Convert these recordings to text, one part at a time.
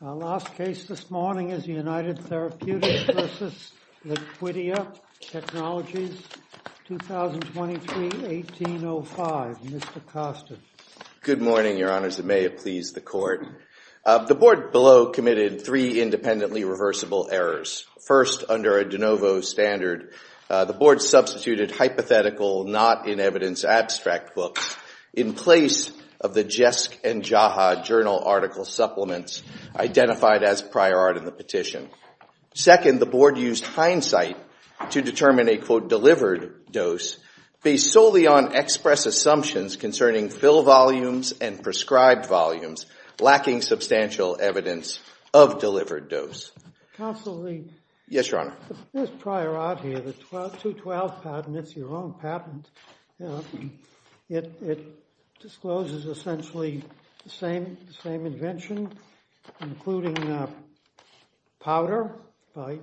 Our last case this morning is United Therapeutics v. Liquidia Technologies, 2023-1805. Mr. Kostin. Good morning, Your Honors. It may have pleased the Court. The Board below committed three independently reversible errors. First, under a de novo standard, the Board substituted hypothetical not-in-evidence abstract books in place of the JESC and JAHA journal article supplements identified as prior art in the petition. Second, the Board used hindsight to determine a, quote, delivered dose based solely on express assumptions concerning fill volumes and prescribed volumes lacking substantial evidence of delivered dose. Counsel Lee. Yes, Your Honor. This prior art here, the 212 patent, and it's your own patent, it discloses essentially the same invention, including powder by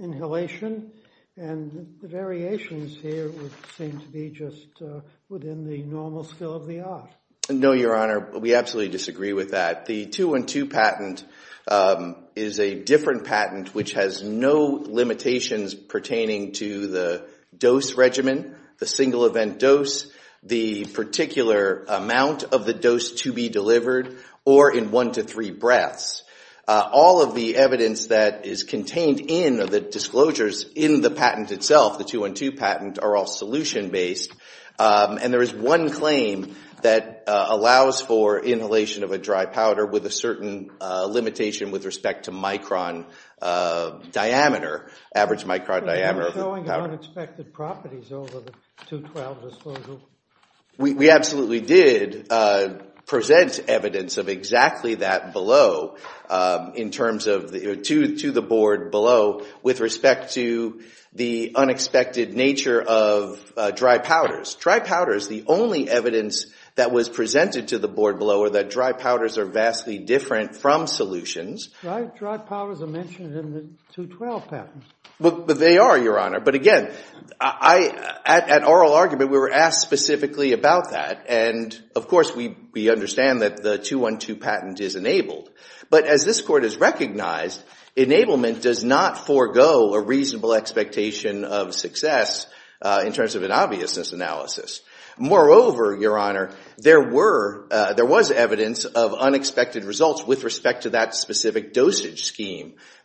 inhalation, and the variations here seem to be just within the normal skill of the art. No, Your Honor. We absolutely disagree with that. The 212 patent is a different patent which has no dose regimen, the single event dose, the particular amount of the dose to be delivered, or in one to three breaths. All of the evidence that is contained in the disclosures in the patent itself, the 212 patent, are all solution-based, and there is one claim that allows for inhalation of a dry powder with a certain limitation with respect to micron diameter, average micron diameter of the powder. Are you showing unexpected properties over the 212 disclosure? We absolutely did present evidence of exactly that below in terms of, to the Board below, with respect to the unexpected nature of dry powders. Dry powders, the only evidence that was presented to the Board below, are that dry powders are vastly different from solutions. Dry powders are mentioned in the 212 patent. They are, Your Honor, but again, at oral argument, we were asked specifically about that, and of course, we understand that the 212 patent is enabled. But as this Court has recognized, enablement does not forego a reasonable expectation of success in terms of an obviousness analysis. Moreover, Your Honor, there was evidence of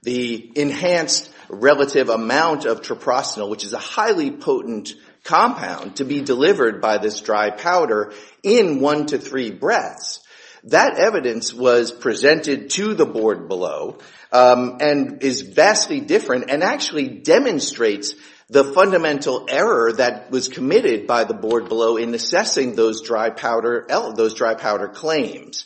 the enhanced relative amount of troprostanol, which is a highly potent compound, to be delivered by this dry powder in one to three breaths. That evidence was presented to the Board below and is vastly different and actually demonstrates the fundamental error that was committed by the Board below in assessing those dry powder claims.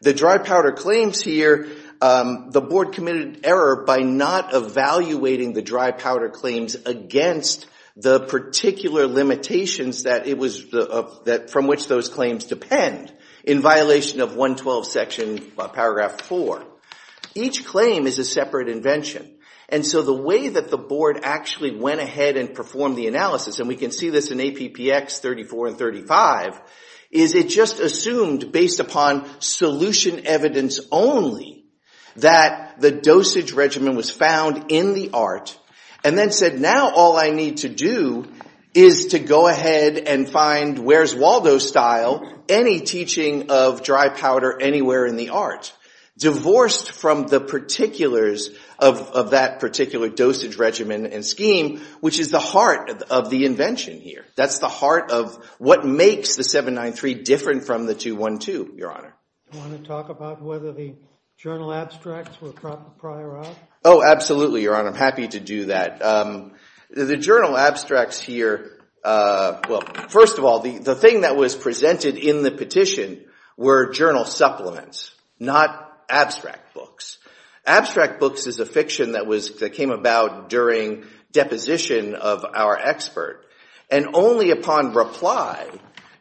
The dry powder claims here, the Board committed error by not evaluating the dry powder claims against the particular limitations that it was, from which those claims depend in violation of 112 section paragraph 4. Each claim is a separate invention, and so the way that the Board actually went ahead and performed the analysis, and we can see this in APPX 34 and 35, is it just assumed based upon solution evidence only that the dosage regimen was found in the ART, and then said now all I need to do is to go ahead and find, where's Waldo style, any teaching of dry powder anywhere in the ART. Divorced from the particulars of that particular dosage regimen and scheme, which is the heart of the invention here. That's the heart of what makes the 793 different from the 212, Your Honor. Do you want to talk about whether the journal abstracts were prior out? Oh, absolutely, Your Honor. I'm happy to do that. The journal abstracts here, well, first of all, the thing that was presented in the petition were journal supplements, not abstract books. Abstract books is a fiction that came about during deposition of our expert, and only upon reply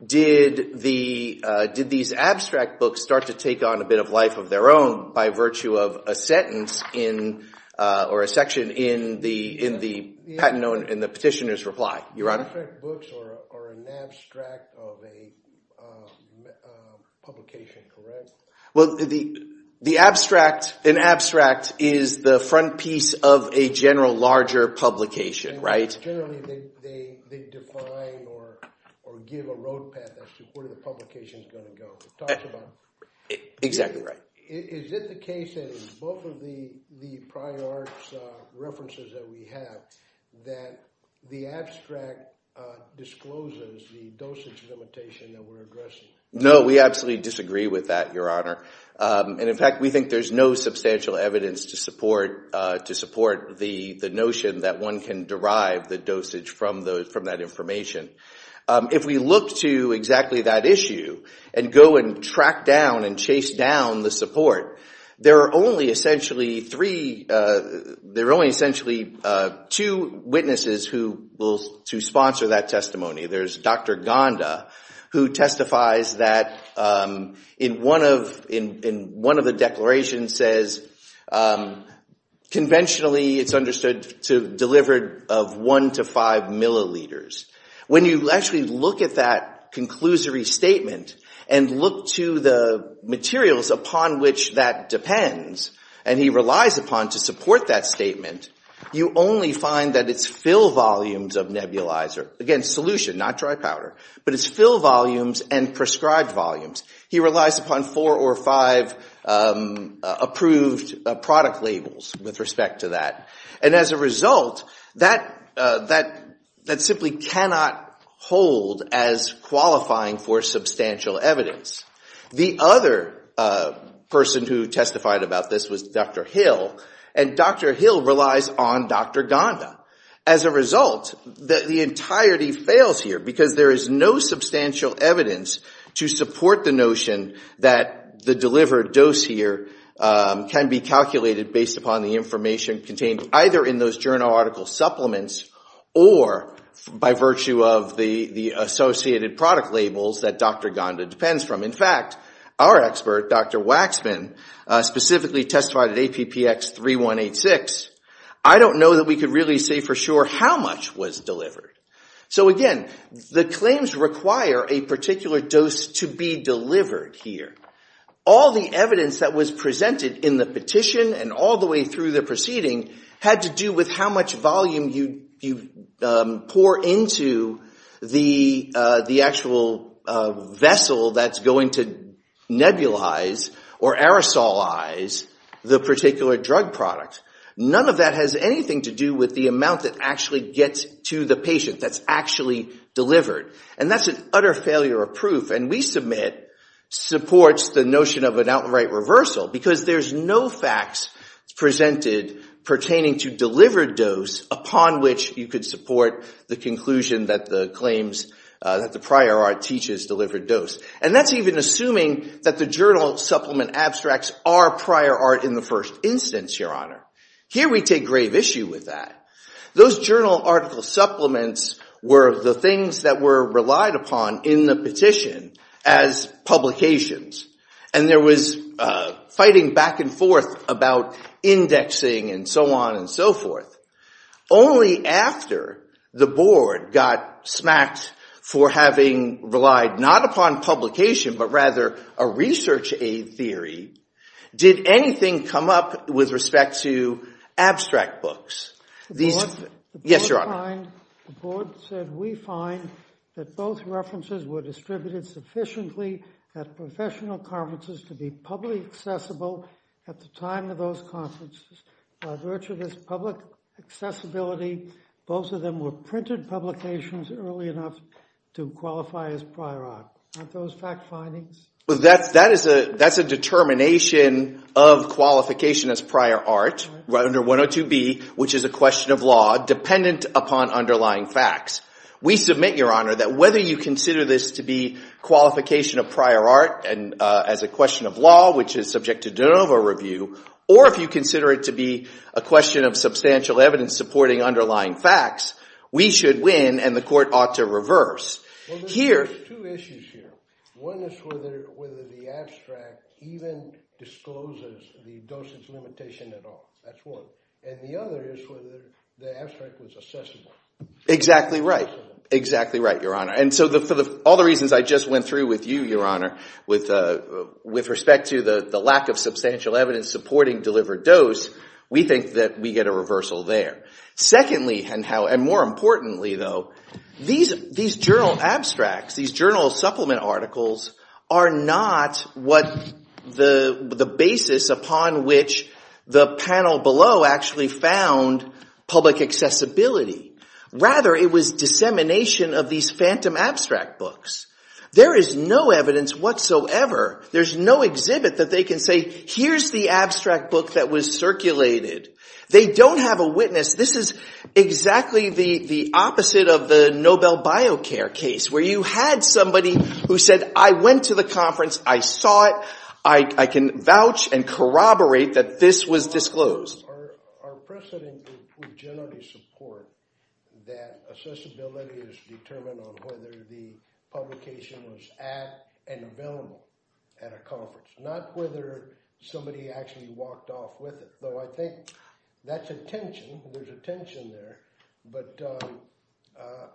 did these abstract books start to take on a bit of life of their own by virtue of a sentence or a section in the petitioner's reply, Your Honor. Abstract books are an abstract of a publication, correct? Well, the abstract, an abstract is the front piece of a general larger publication, right? Generally, they define or give a road path as to where the publication is going to go. It talks about... Exactly right. Is it the case that in both of the prior ART references that we have that the abstract discloses the dosage limitation that we're addressing? No, we absolutely disagree with that, Your Honor. And in fact, we think there's no substantial evidence to support the notion that one can derive the dosage from that information. If we look to exactly that issue and go and track down and chase down the support, there are only essentially three, there are only essentially two witnesses who will, to sponsor that testimony. There's Dr. Gonda who testifies that in one of the declarations says conventionally it's understood to deliver of one to five milliliters. When you actually look at that conclusory statement and look to the materials upon which that depends and he relies upon to support that statement, you only find that it's fill volumes, not dry powder, but it's fill volumes and prescribed volumes. He relies upon four or five approved product labels with respect to that. And as a result, that simply cannot hold as qualifying for substantial evidence. The other person who testified about this was Dr. Hill and Dr. Hill relies on Dr. Gonda. As a result, the entirety fails here because there is no substantial evidence to support the notion that the delivered dose here can be calculated based upon the information contained either in those journal article supplements or by virtue of the associated product labels that Dr. Gonda depends from. In fact, our expert, Dr. Waxman, specifically testified at APPX 3186. I don't know that we could really say for sure how much was delivered. So again, the claims require a particular dose to be delivered here. All the evidence that was presented in the petition and all the way through the proceeding had to do with how much volume you pour into the actual vessel that's going to nebulize or aerosolize the particular drug product. None of that has anything to do with the amount that actually gets to the patient that's actually delivered. And that's an utter failure of proof. And we submit supports the notion of an outright reversal because there's no facts presented pertaining to delivered dose upon which you could support the conclusion that the claims, that the prior art teaches delivered dose. And that's even assuming that the journal supplement abstracts are prior art in the first instance, Your Honor. Here we take grave issue with that. Those journal article supplements were the things that were relied upon in the petition as publications. And there was fighting back and forth about indexing and so on and so forth. Only after the board got smacked for having relied not upon publication but rather a research aid theory, did anything come up with respect to abstract books. Yes, Your Honor. The board said we find that both references were distributed sufficiently at professional conferences to be publicly accessible at the time of those conferences. By virtue of this public accessibility, both of them were printed publications early enough to qualify as prior art. Aren't those fact findings? That's a determination of qualification as prior art under 102B, which is a question of law dependent upon underlying facts. We submit, Your Honor, that whether you consider this to be qualification of prior art as a question of law, which is subject to de novo review, or if you consider it to be a question of substantial evidence supporting underlying facts, we should win and the court ought to reverse. Well, there's two issues here. One is whether the abstract even discloses the dosage limitation at all. That's one. And the other is whether the abstract was accessible. Exactly right. Exactly right, Your Honor. And so for all the reasons I just went through with you, Your Honor, with respect to the lack of substantial evidence supporting delivered dose, we think that we get a reversal there. Secondly, and more importantly, though, these journal abstracts, these journal supplement articles, are not what the basis upon which the panel below actually found public accessibility. Rather, it was dissemination of these phantom abstract books. There is no evidence whatsoever, there's no exhibit that they can say, here's the abstract book that was circulated. They don't have a witness. This is exactly the opposite of the Nobel BioCare case where you had somebody who said, I went to the conference, I saw it, I can vouch and corroborate that this was disclosed. Our precedent would generally support that accessibility is determined on whether the publication was at and available at a conference, not whether somebody actually walked off with it. So I think that's a tension. There's a tension there. But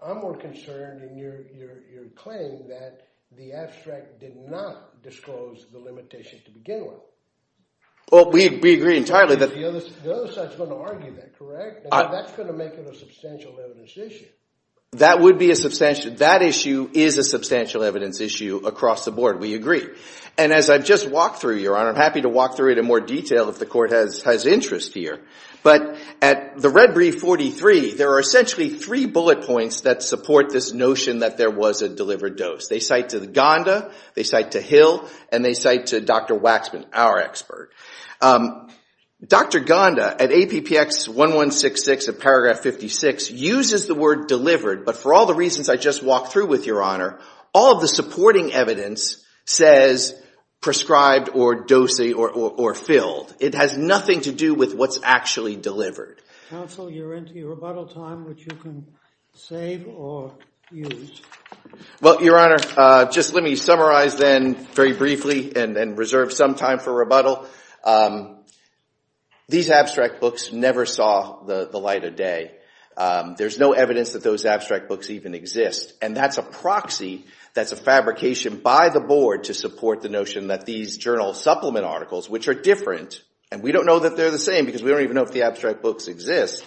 I'm more concerned in your claim that the abstract did not disclose the limitation to begin with. Well, we agree entirely that... The other side's going to argue that, correct? That's going to make it a substantial evidence issue. That would be a substantial... That issue is a substantial evidence issue across the board. We agree. And as I've just walked through, Your Honor, and I'm happy to walk through it in more detail if the Court has interest here, but at the red brief 43, there are essentially three bullet points that support this notion that there was a delivered dose. They cite to Gonda, they cite to Hill, and they cite to Dr. Waxman, our expert. Dr. Gonda, at APPX 1166 of paragraph 56, but for all the reasons I just walked through with you, Your Honor, all of the supporting evidence says prescribed or dosing or filled. It has nothing to do with what's actually delivered. Counsel, you're into your rebuttal time, which you can save or use. Well, Your Honor, just let me summarize then very briefly and reserve some time for rebuttal. These abstract books never saw the light of day. There's no evidence that those abstract books even exist. And that's a proxy that's a fabrication by the Board to support the notion that these journal supplement articles, which are different, and we don't know that they're the same because we don't even know if the abstract books exist,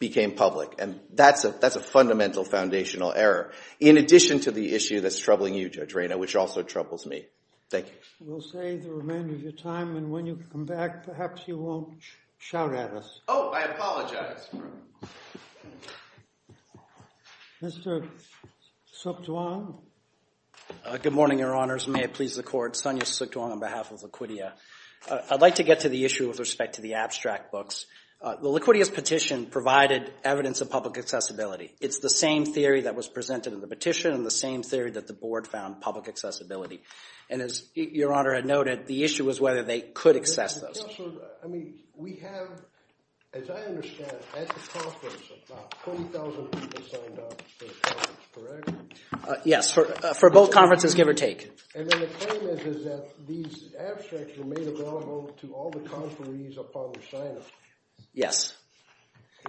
became public, and that's a fundamental foundational error. In addition to the issue that's troubling you, Judge Rayner, which also troubles me. Thank you. We'll save the remainder of your time, and when you come back, perhaps you won't shout at us. Oh, I apologize. Mr. Suk Tuang? Good morning, Your Honors. May it please the Court. Sonia Suk Tuang on behalf of Laquitia. I'd like to get to the issue with respect to the abstract books. The Laquitia's petition provided evidence of public accessibility. It's the same theory that was presented in the petition and the same theory that the Board found public accessibility. And as Your Honor had noted, the issue was whether they could access those. Counsel, I mean, we have, as I understand it, at the conference, about 20,000 people signed up for the conference, correct? Yes, for both conferences, give or take. And then the claim is that these abstracts were made available to all the conferees upon their sign-up. Yes.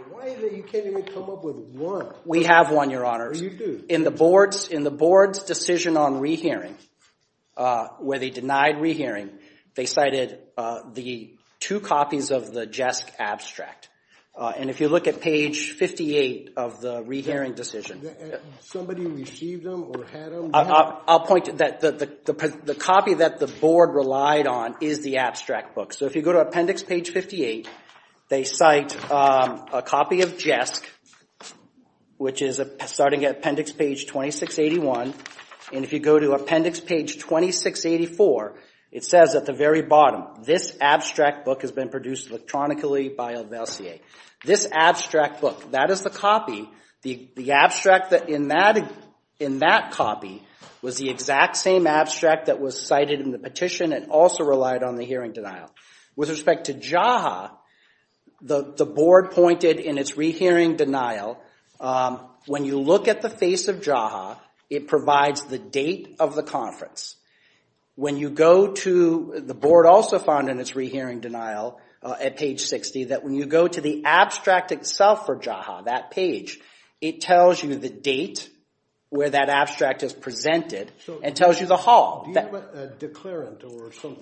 Why is it you can't even come up with one? We have one, Your Honors. In the Board's decision on rehearing, where they denied rehearing, they cited the two copies of the Jesk abstract. And if you look at page 58 of the rehearing decision... Somebody received them or had them? I'll point out that the copy that the Board relied on is the abstract book. So if you go to appendix page 58, they cite a copy of Jesk, which is starting at appendix page 2681. And if you go to appendix page 2684, it says at the very bottom, this abstract book has been produced electronically by El Vercier. This abstract book, that is the copy. The abstract in that copy was the exact same abstract that was cited in the petition and also relied on the hearing denial. With respect to Jaha, the Board pointed in its rehearing denial, when you look at the face of Jaha, it provides the date of the conference. When you go to... The Board also found in its rehearing denial at page 60 that when you go to the abstract itself for Jaha, that page, it tells you the date where that abstract is presented and tells you the hall. Do you have a declarant?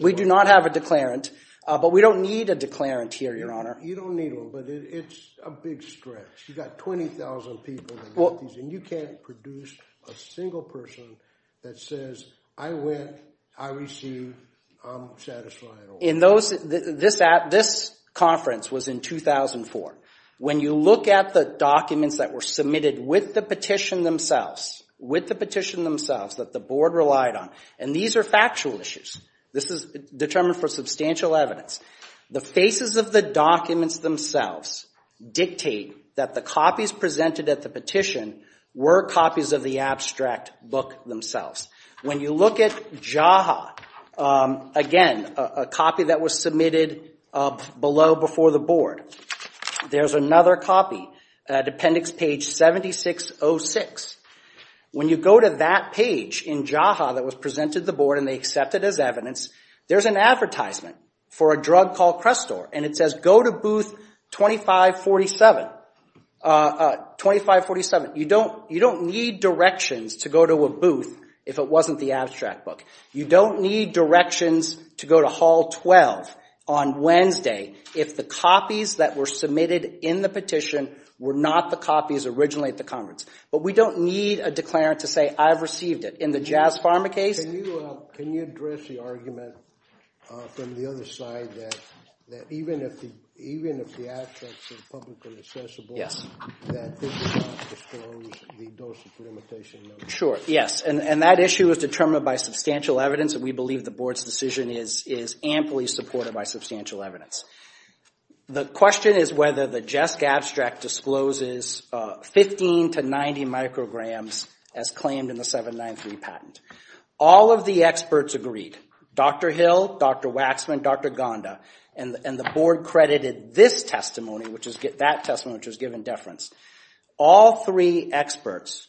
We do not have a declarant, but we don't need a declarant here, Your Honor. You don't need one, but it's a big stretch. You've got 20,000 people and you can't produce a single person that says, I went, I received, I'm satisfied. This conference was in 2004. When you look at the documents that were submitted with the petition themselves, that the Board relied on, and these are factual issues, this is determined for substantial evidence, the faces of the documents themselves dictate that the copies presented at the petition were copies of the abstract book themselves. When you look at Jaha, again, a copy that was submitted below before the Board, there's another copy at appendix page 7606. When you go to that page in Jaha that was presented to the Board and they accepted as evidence, there's an advertisement for a drug called Crestor and it says go to booth 2547. You don't need directions to go to a booth if it wasn't the abstract book. You don't need directions to go to hall 12 on Wednesday if the copies that were submitted in the petition were not the copies originally at the conference. But we don't need a declarant to say I've received it. In the Jazz Pharma case... Can you address the argument from the other side that even if the abstracts are publicly accessible, that this does not disclose the dosage limitation? Sure, yes. And that issue is determined by substantial evidence and we believe the Board's decision is amply supported by substantial evidence. The question is whether the JESSC abstract discloses 15 to 90 micrograms as claimed in the 793 patent. All of the experts agreed. Dr. Hill, Dr. Waxman, Dr. Gonda and the Board credited this testimony, that testimony which was given deference. All three experts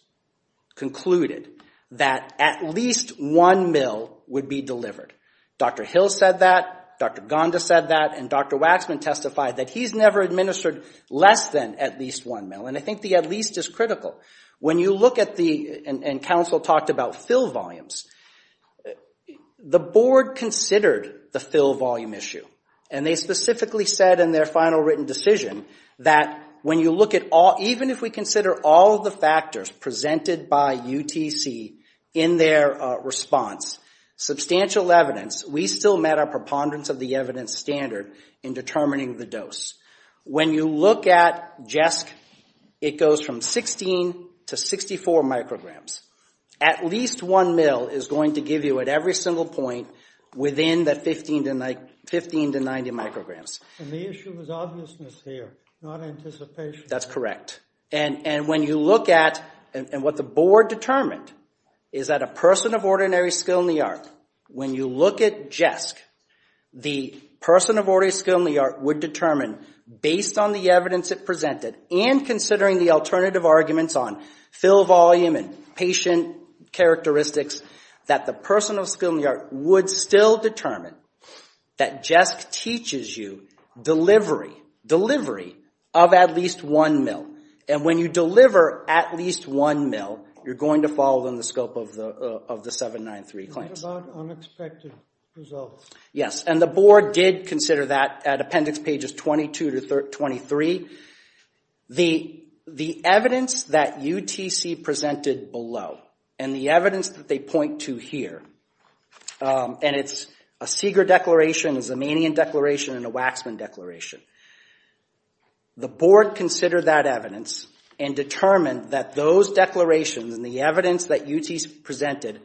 concluded that at least one mil would be delivered. Dr. Hill said that, Dr. Gonda said that and Dr. Waxman testified that he's never administered less than at least one mil. And I think the at least is critical. When you look at the... And counsel talked about fill volumes. The Board considered the fill volume issue and they specifically said in their final written decision that even if we consider all of the factors presented by UTC in their response, substantial evidence, we still met our preponderance of the evidence standard in determining the dose. When you look at JESSC, it goes from 16 to 64 micrograms. At least one mil is going to give you at every single point within the 15 to 90 micrograms. And the issue is obviousness here, not anticipation. That's correct. And what the Board determined is that a person of ordinary skill in the art, when you look at JESSC, the person of ordinary skill in the art would determine based on the evidence it presented and considering the alternative arguments on fill volume and patient characteristics, that the person of skill in the art would still determine that JESSC teaches you delivery of at least one mil. And when you deliver at least one mil, you're going to follow in the scope of the 793 claims. What about unexpected results? Yes, and the Board did consider that at appendix pages 22 to 23. The evidence that UTC presented below and the evidence that they point to here, and it's a Seeger declaration, a Zemanian declaration, and a Waxman declaration. The Board considered that evidence and determined that those declarations and the evidence that UTC presented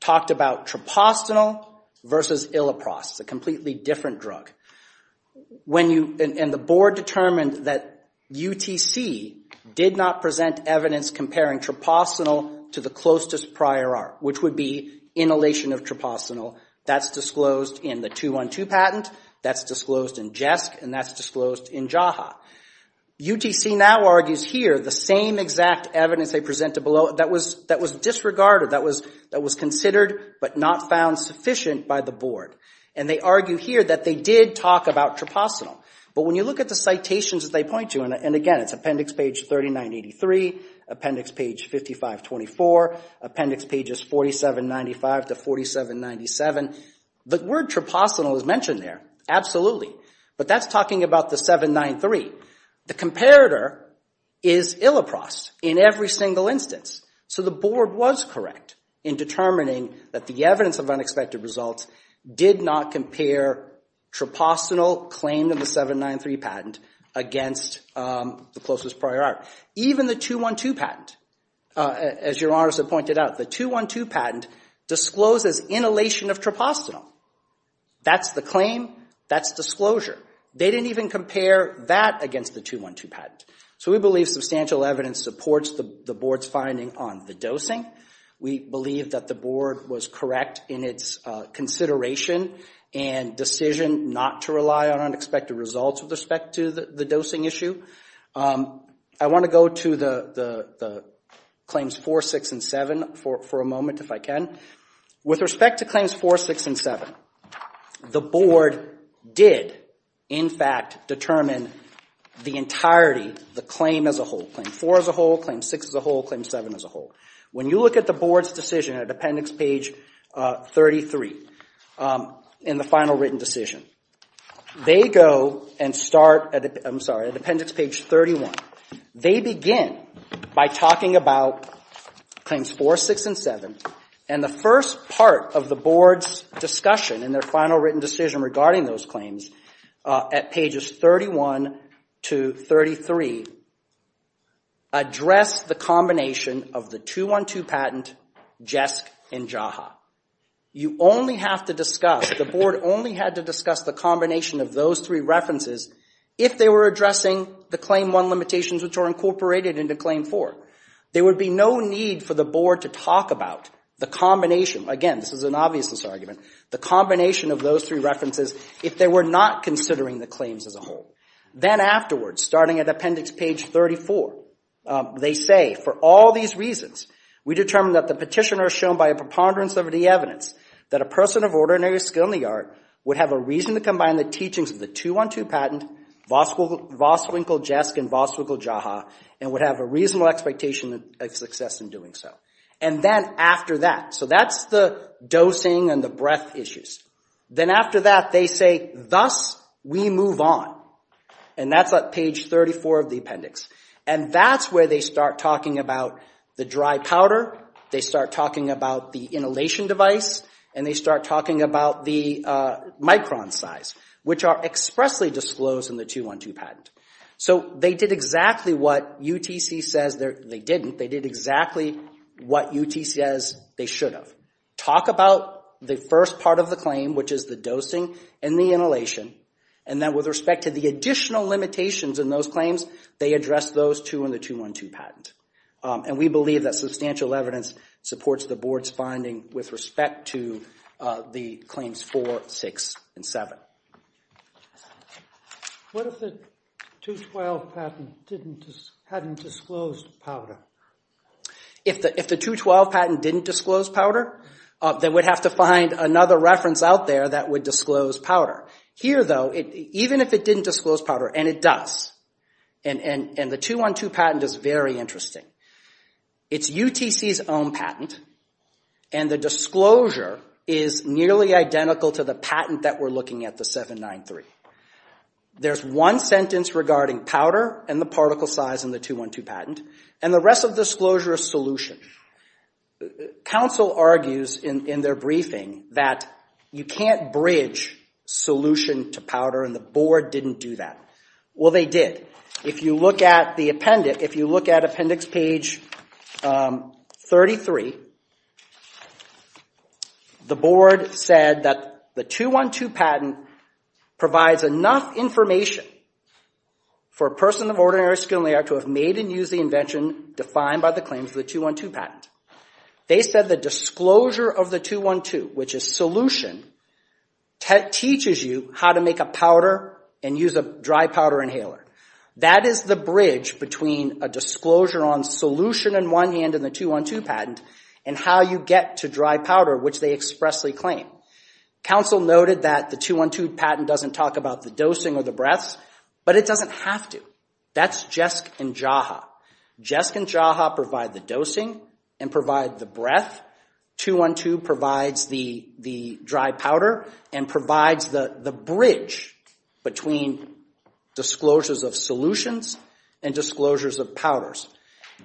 talked about trapostanol versus illoprost, a completely different drug. And the Board determined that UTC did not present evidence comparing trapostanol to the closest prior art, which would be inhalation of trapostanol. That's disclosed in the 212 patent, that's disclosed in JESSC, and that's disclosed in JAHA. UTC now argues here the same exact evidence they presented below that was disregarded, that was considered but not found sufficient by the Board. And they argue here that they did talk about trapostanol. But when you look at the citations that they point to, and again, it's appendix page 3983, appendix page 5524, appendix pages 4795 to 4797, the word trapostanol is mentioned there. Absolutely, but that's talking about the 793. The comparator is illoprost in every single instance, so the Board was correct in determining that the evidence of unexpected results did not compare trapostanol claimed in the 793 patent against the closest prior art. Even the 212 patent, as Your Honors have pointed out, the 212 patent discloses inhalation of trapostanol. That's the claim. That's disclosure. They didn't even compare that against the 212 patent. So we believe substantial evidence supports the Board's finding on the dosing. We believe that the Board was correct in its consideration and decision not to rely on unexpected results with respect to the dosing issue. I want to go to the claims 4, 6, and 7 for a moment, if I can. With respect to claims 4, 6, and 7, the Board did, in fact, determine the entirety, the claim as a whole. Claim 4 as a whole, claim 6 as a whole, claim 7 as a whole. When you look at the Board's decision at Appendix page 33 in the final written decision, they go and start at Appendix page 31. They begin by talking about and the first part of the Board's discussion in their final written decision regarding those claims at pages 31 to 33 address the combination of the 212 patent, JESC, and JAHA. You only have to discuss, the Board only had to discuss the combination of those three references if they were addressing the claim 1 limitations which are incorporated into claim 4. There would be no need for the Board to talk about the combination, again, this is an obviousness argument, the combination of those three references if they were not considering the claims as a whole. Then afterwards, starting at Appendix page 34, they say, for all these reasons, we determine that the petitioner is shown by a preponderance of the evidence that a person of ordinary skill in the art would have a reason to combine the teachings of the 212 patent, Voswinkel-JESC and Voswinkel-JAHA, and would have a reasonable expectation of success in doing so. And then after that, so that's the dosing and the breadth issues. Then after that, they say, thus, we move on. And that's at page 34 of the Appendix. And that's where they start talking about the dry powder, they start talking about the inhalation device, and they start talking about the micron size which are expressly disclosed in the 212 patent. So they did exactly what UTC says they didn't, they did exactly what UTC says they should have. Talk about the first part of the claim, which is the dosing and the inhalation, and then with respect to the additional limitations in those claims, they address those too in the 212 patent. And we believe that substantial evidence supports the Board's finding with respect to the claims 4, 6, and 7. What if the 212 patent hadn't disclosed powder? If the 212 patent didn't disclose powder, they would have to find another reference out there that would disclose powder. Here though, even if it didn't disclose powder, and it does, and the 212 patent is very interesting, it's UTC's own patent and the disclosure is nearly identical to the patent that we're looking at, the 793. There's one sentence regarding powder and the particle size in the 212 patent, and the rest of the disclosure is solution. Council argues in their briefing that you can't bridge solution to powder and the Board didn't do that. Well, they did. If you look at the appendix, if you look at appendix page 33, the Board said that the 212 patent provides enough information for a person of ordinary skin layer to have made and used the invention defined by the claims of the 212 patent. They said the disclosure of the 212, which is solution, teaches you how to make a powder and use a dry powder inhaler. That is the bridge between a disclosure on solution in one hand and the 212 patent and how you get to dry powder, which they expressly claim. Council noted that the 212 patent doesn't talk about the dosing or the breaths, but it doesn't have to. That's JESC and JAHA. JESC and JAHA provide the dosing and provide the breath. 212 provides the dry powder and provides the bridge between disclosures of solutions and disclosures of powders.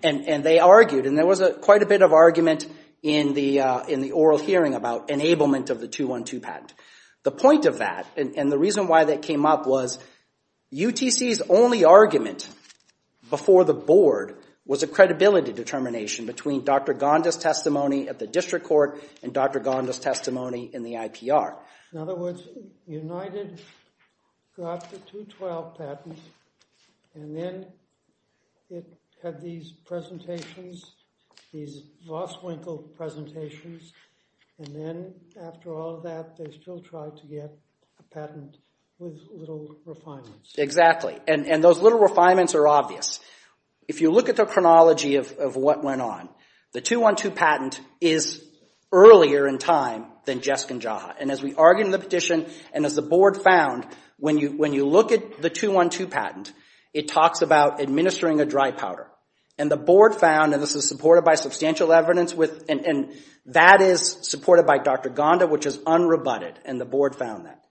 They argued, and there was quite a bit of argument in the oral hearing about enablement of the 212 patent. The point of that and the reason why that came up was UTC's only argument before the Board was a credibility determination between Dr. Gonda's testimony at the District Court and Dr. Gonda's testimony in the IPR. In other words, United got the 212 patent and then it had these presentations, these lost-winkle presentations and then after all of that they still tried to get a patent with little refinements. Exactly, and those little refinements are obvious. If you look at the chronology of what went on, the 212 patent is earlier in time than JESC and JAHA. As we argued in the petition and as the Board found, when you look at the 212 patent, it talks about administering a dry powder. This is supported by substantial evidence and that is supported by Dr. Gonda, which is unrebutted and the Board found that.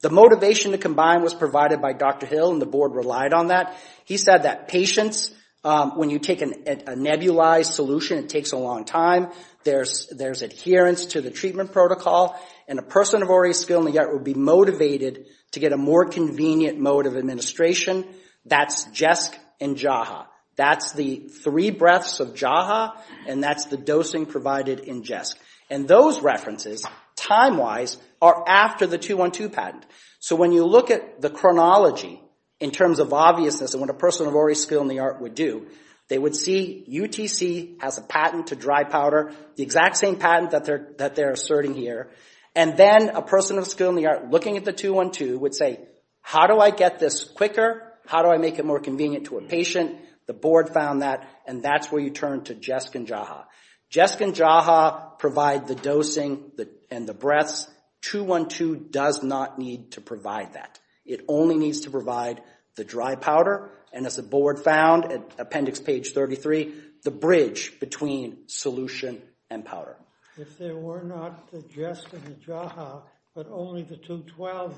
The motivation to combine was provided by Dr. Hill and the Board relied on that. He said that patients, when you take a nebulized solution, it takes a long time. There's adherence to the treatment protocol and a person of already skilled in the art would be motivated to get a more convenient mode of administration. That's JESC and JAHA. That's the three breaths of JAHA and that's the dosing provided in JESC. Those references, time-wise, are after the 212 patent. When you look at the chronology in terms of obviousness of what a person of already skilled in the art would do, they would see UTC has a patent to dry powder, the exact same patent that they're asserting here, and then a person of skilled in the art looking at the 212 would say, how do I get this quicker? How do I make it more convenient to a patient? The Board found that and that's where you turn to JESC and JAHA. JESC and JAHA provide the dosing and the breaths. 212 does not need to provide that. It only needs to provide the dry powder and as the Board found at appendix page 33, the bridge between solution and powder. If there were not the JESC and the JAHA but only the 212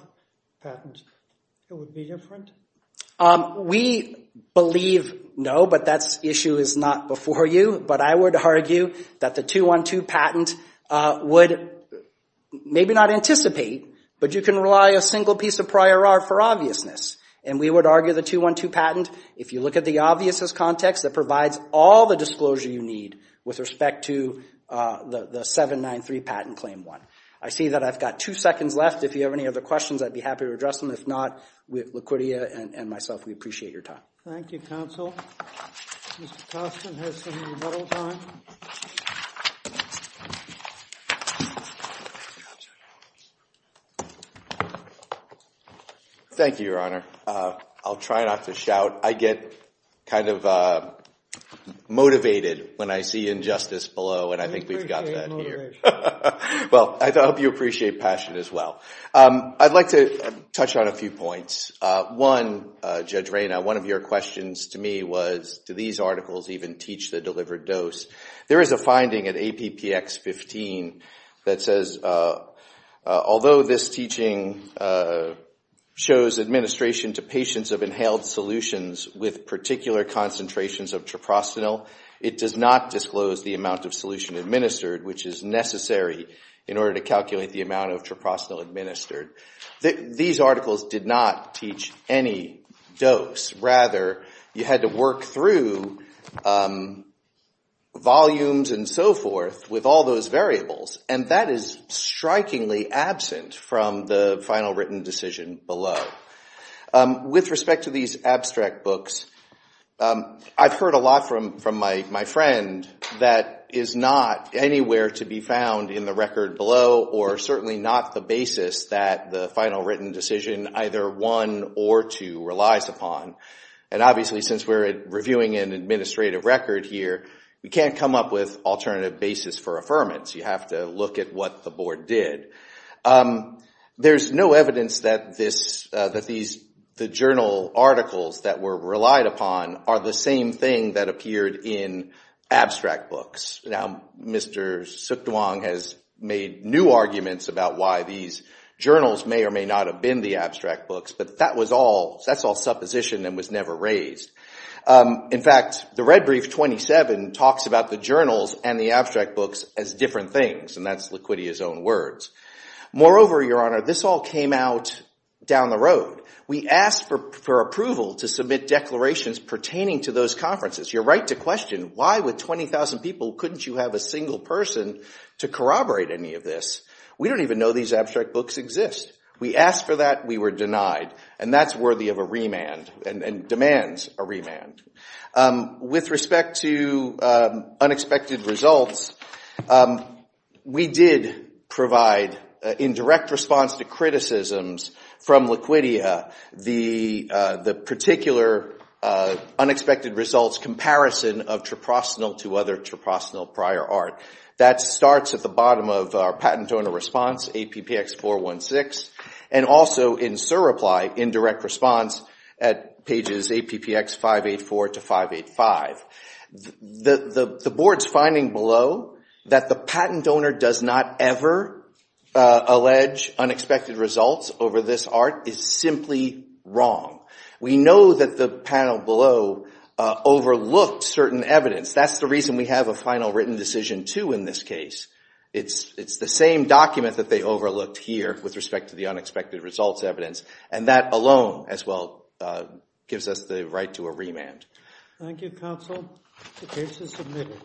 patents, it would be different? We believe no, but that issue is not before you, but I would argue that the 212 patent would maybe not anticipate but you can rely a single piece of prior art for obviousness and we would argue the 212 patent, if you look at the obviousness context, that provides all the disclosure you need with respect to the 793 patent claim 1. I see that I've got 2 seconds left. If you have any other questions, I'd be happy to address them. If not, Laquitia and myself, we appreciate your time. Thank you, counsel. Thank you, Your Honor. I'll try not to shout. I get kind of motivated when I see injustice below and I think we've got that here. Well, I hope you appreciate passion as well. I'd like to touch on a few points. One, Judge Rayna, one of your questions to me was do these articles even teach the delivered dose? There is a finding at APPX 15 that says although this teaching shows administration to patients of inhaled solutions with particular concentrations of traprosanil, it does not disclose the amount of solution administered which is necessary in order to calculate the amount of traprosanil administered. These articles did not teach any dose. Rather, you had to work through volumes and so forth with all those variables and that is strikingly absent from the final written decision below. With respect to these abstract books, I've heard a lot from my friend that is not anywhere to be found in the record below or certainly not the basis that the final written decision either won or to relies upon. Obviously, since we're reviewing an administrative record here, we can't come up with alternative basis for affirmance. You have to look at what the board did. There's no evidence that the journal articles that were relied upon are the same thing that appeared in abstract books. Now, Mr. Suk Duong has made new arguments about why these journals may or may not have been the abstract books, but that's all supposition and was never raised. In fact, the red brief 27 talks about the journals and the abstract books as different things and that's liquidity as own words. Moreover, Your Honor, this all came out down the road. We asked for approval to submit declarations pertaining to those conferences. You're right to question why with 20,000 people, couldn't you have a single person to corroborate any of this? We don't even know these abstract books exist. We asked for that, we were denied and that's worthy of a remand and demands a remand. With respect to unexpected results, we did provide in direct response to criticisms from Liquidia the particular unexpected results comparison of Traprostanal to other Traprostanal prior art. That starts at the bottom of our patent owner response, APPX416 and also in surreply in direct response at pages APPX584 to 585. The board's finding below that the patent owner does not ever allege unexpected results over this art is simply wrong. We know that the panel below overlooked certain evidence. That's the reason we have a final written decision too in this case. It's the same document that they overlooked here with respect to the unexpected results evidence and that alone gives us the right to a remand. Thank you counsel. The case is submitted.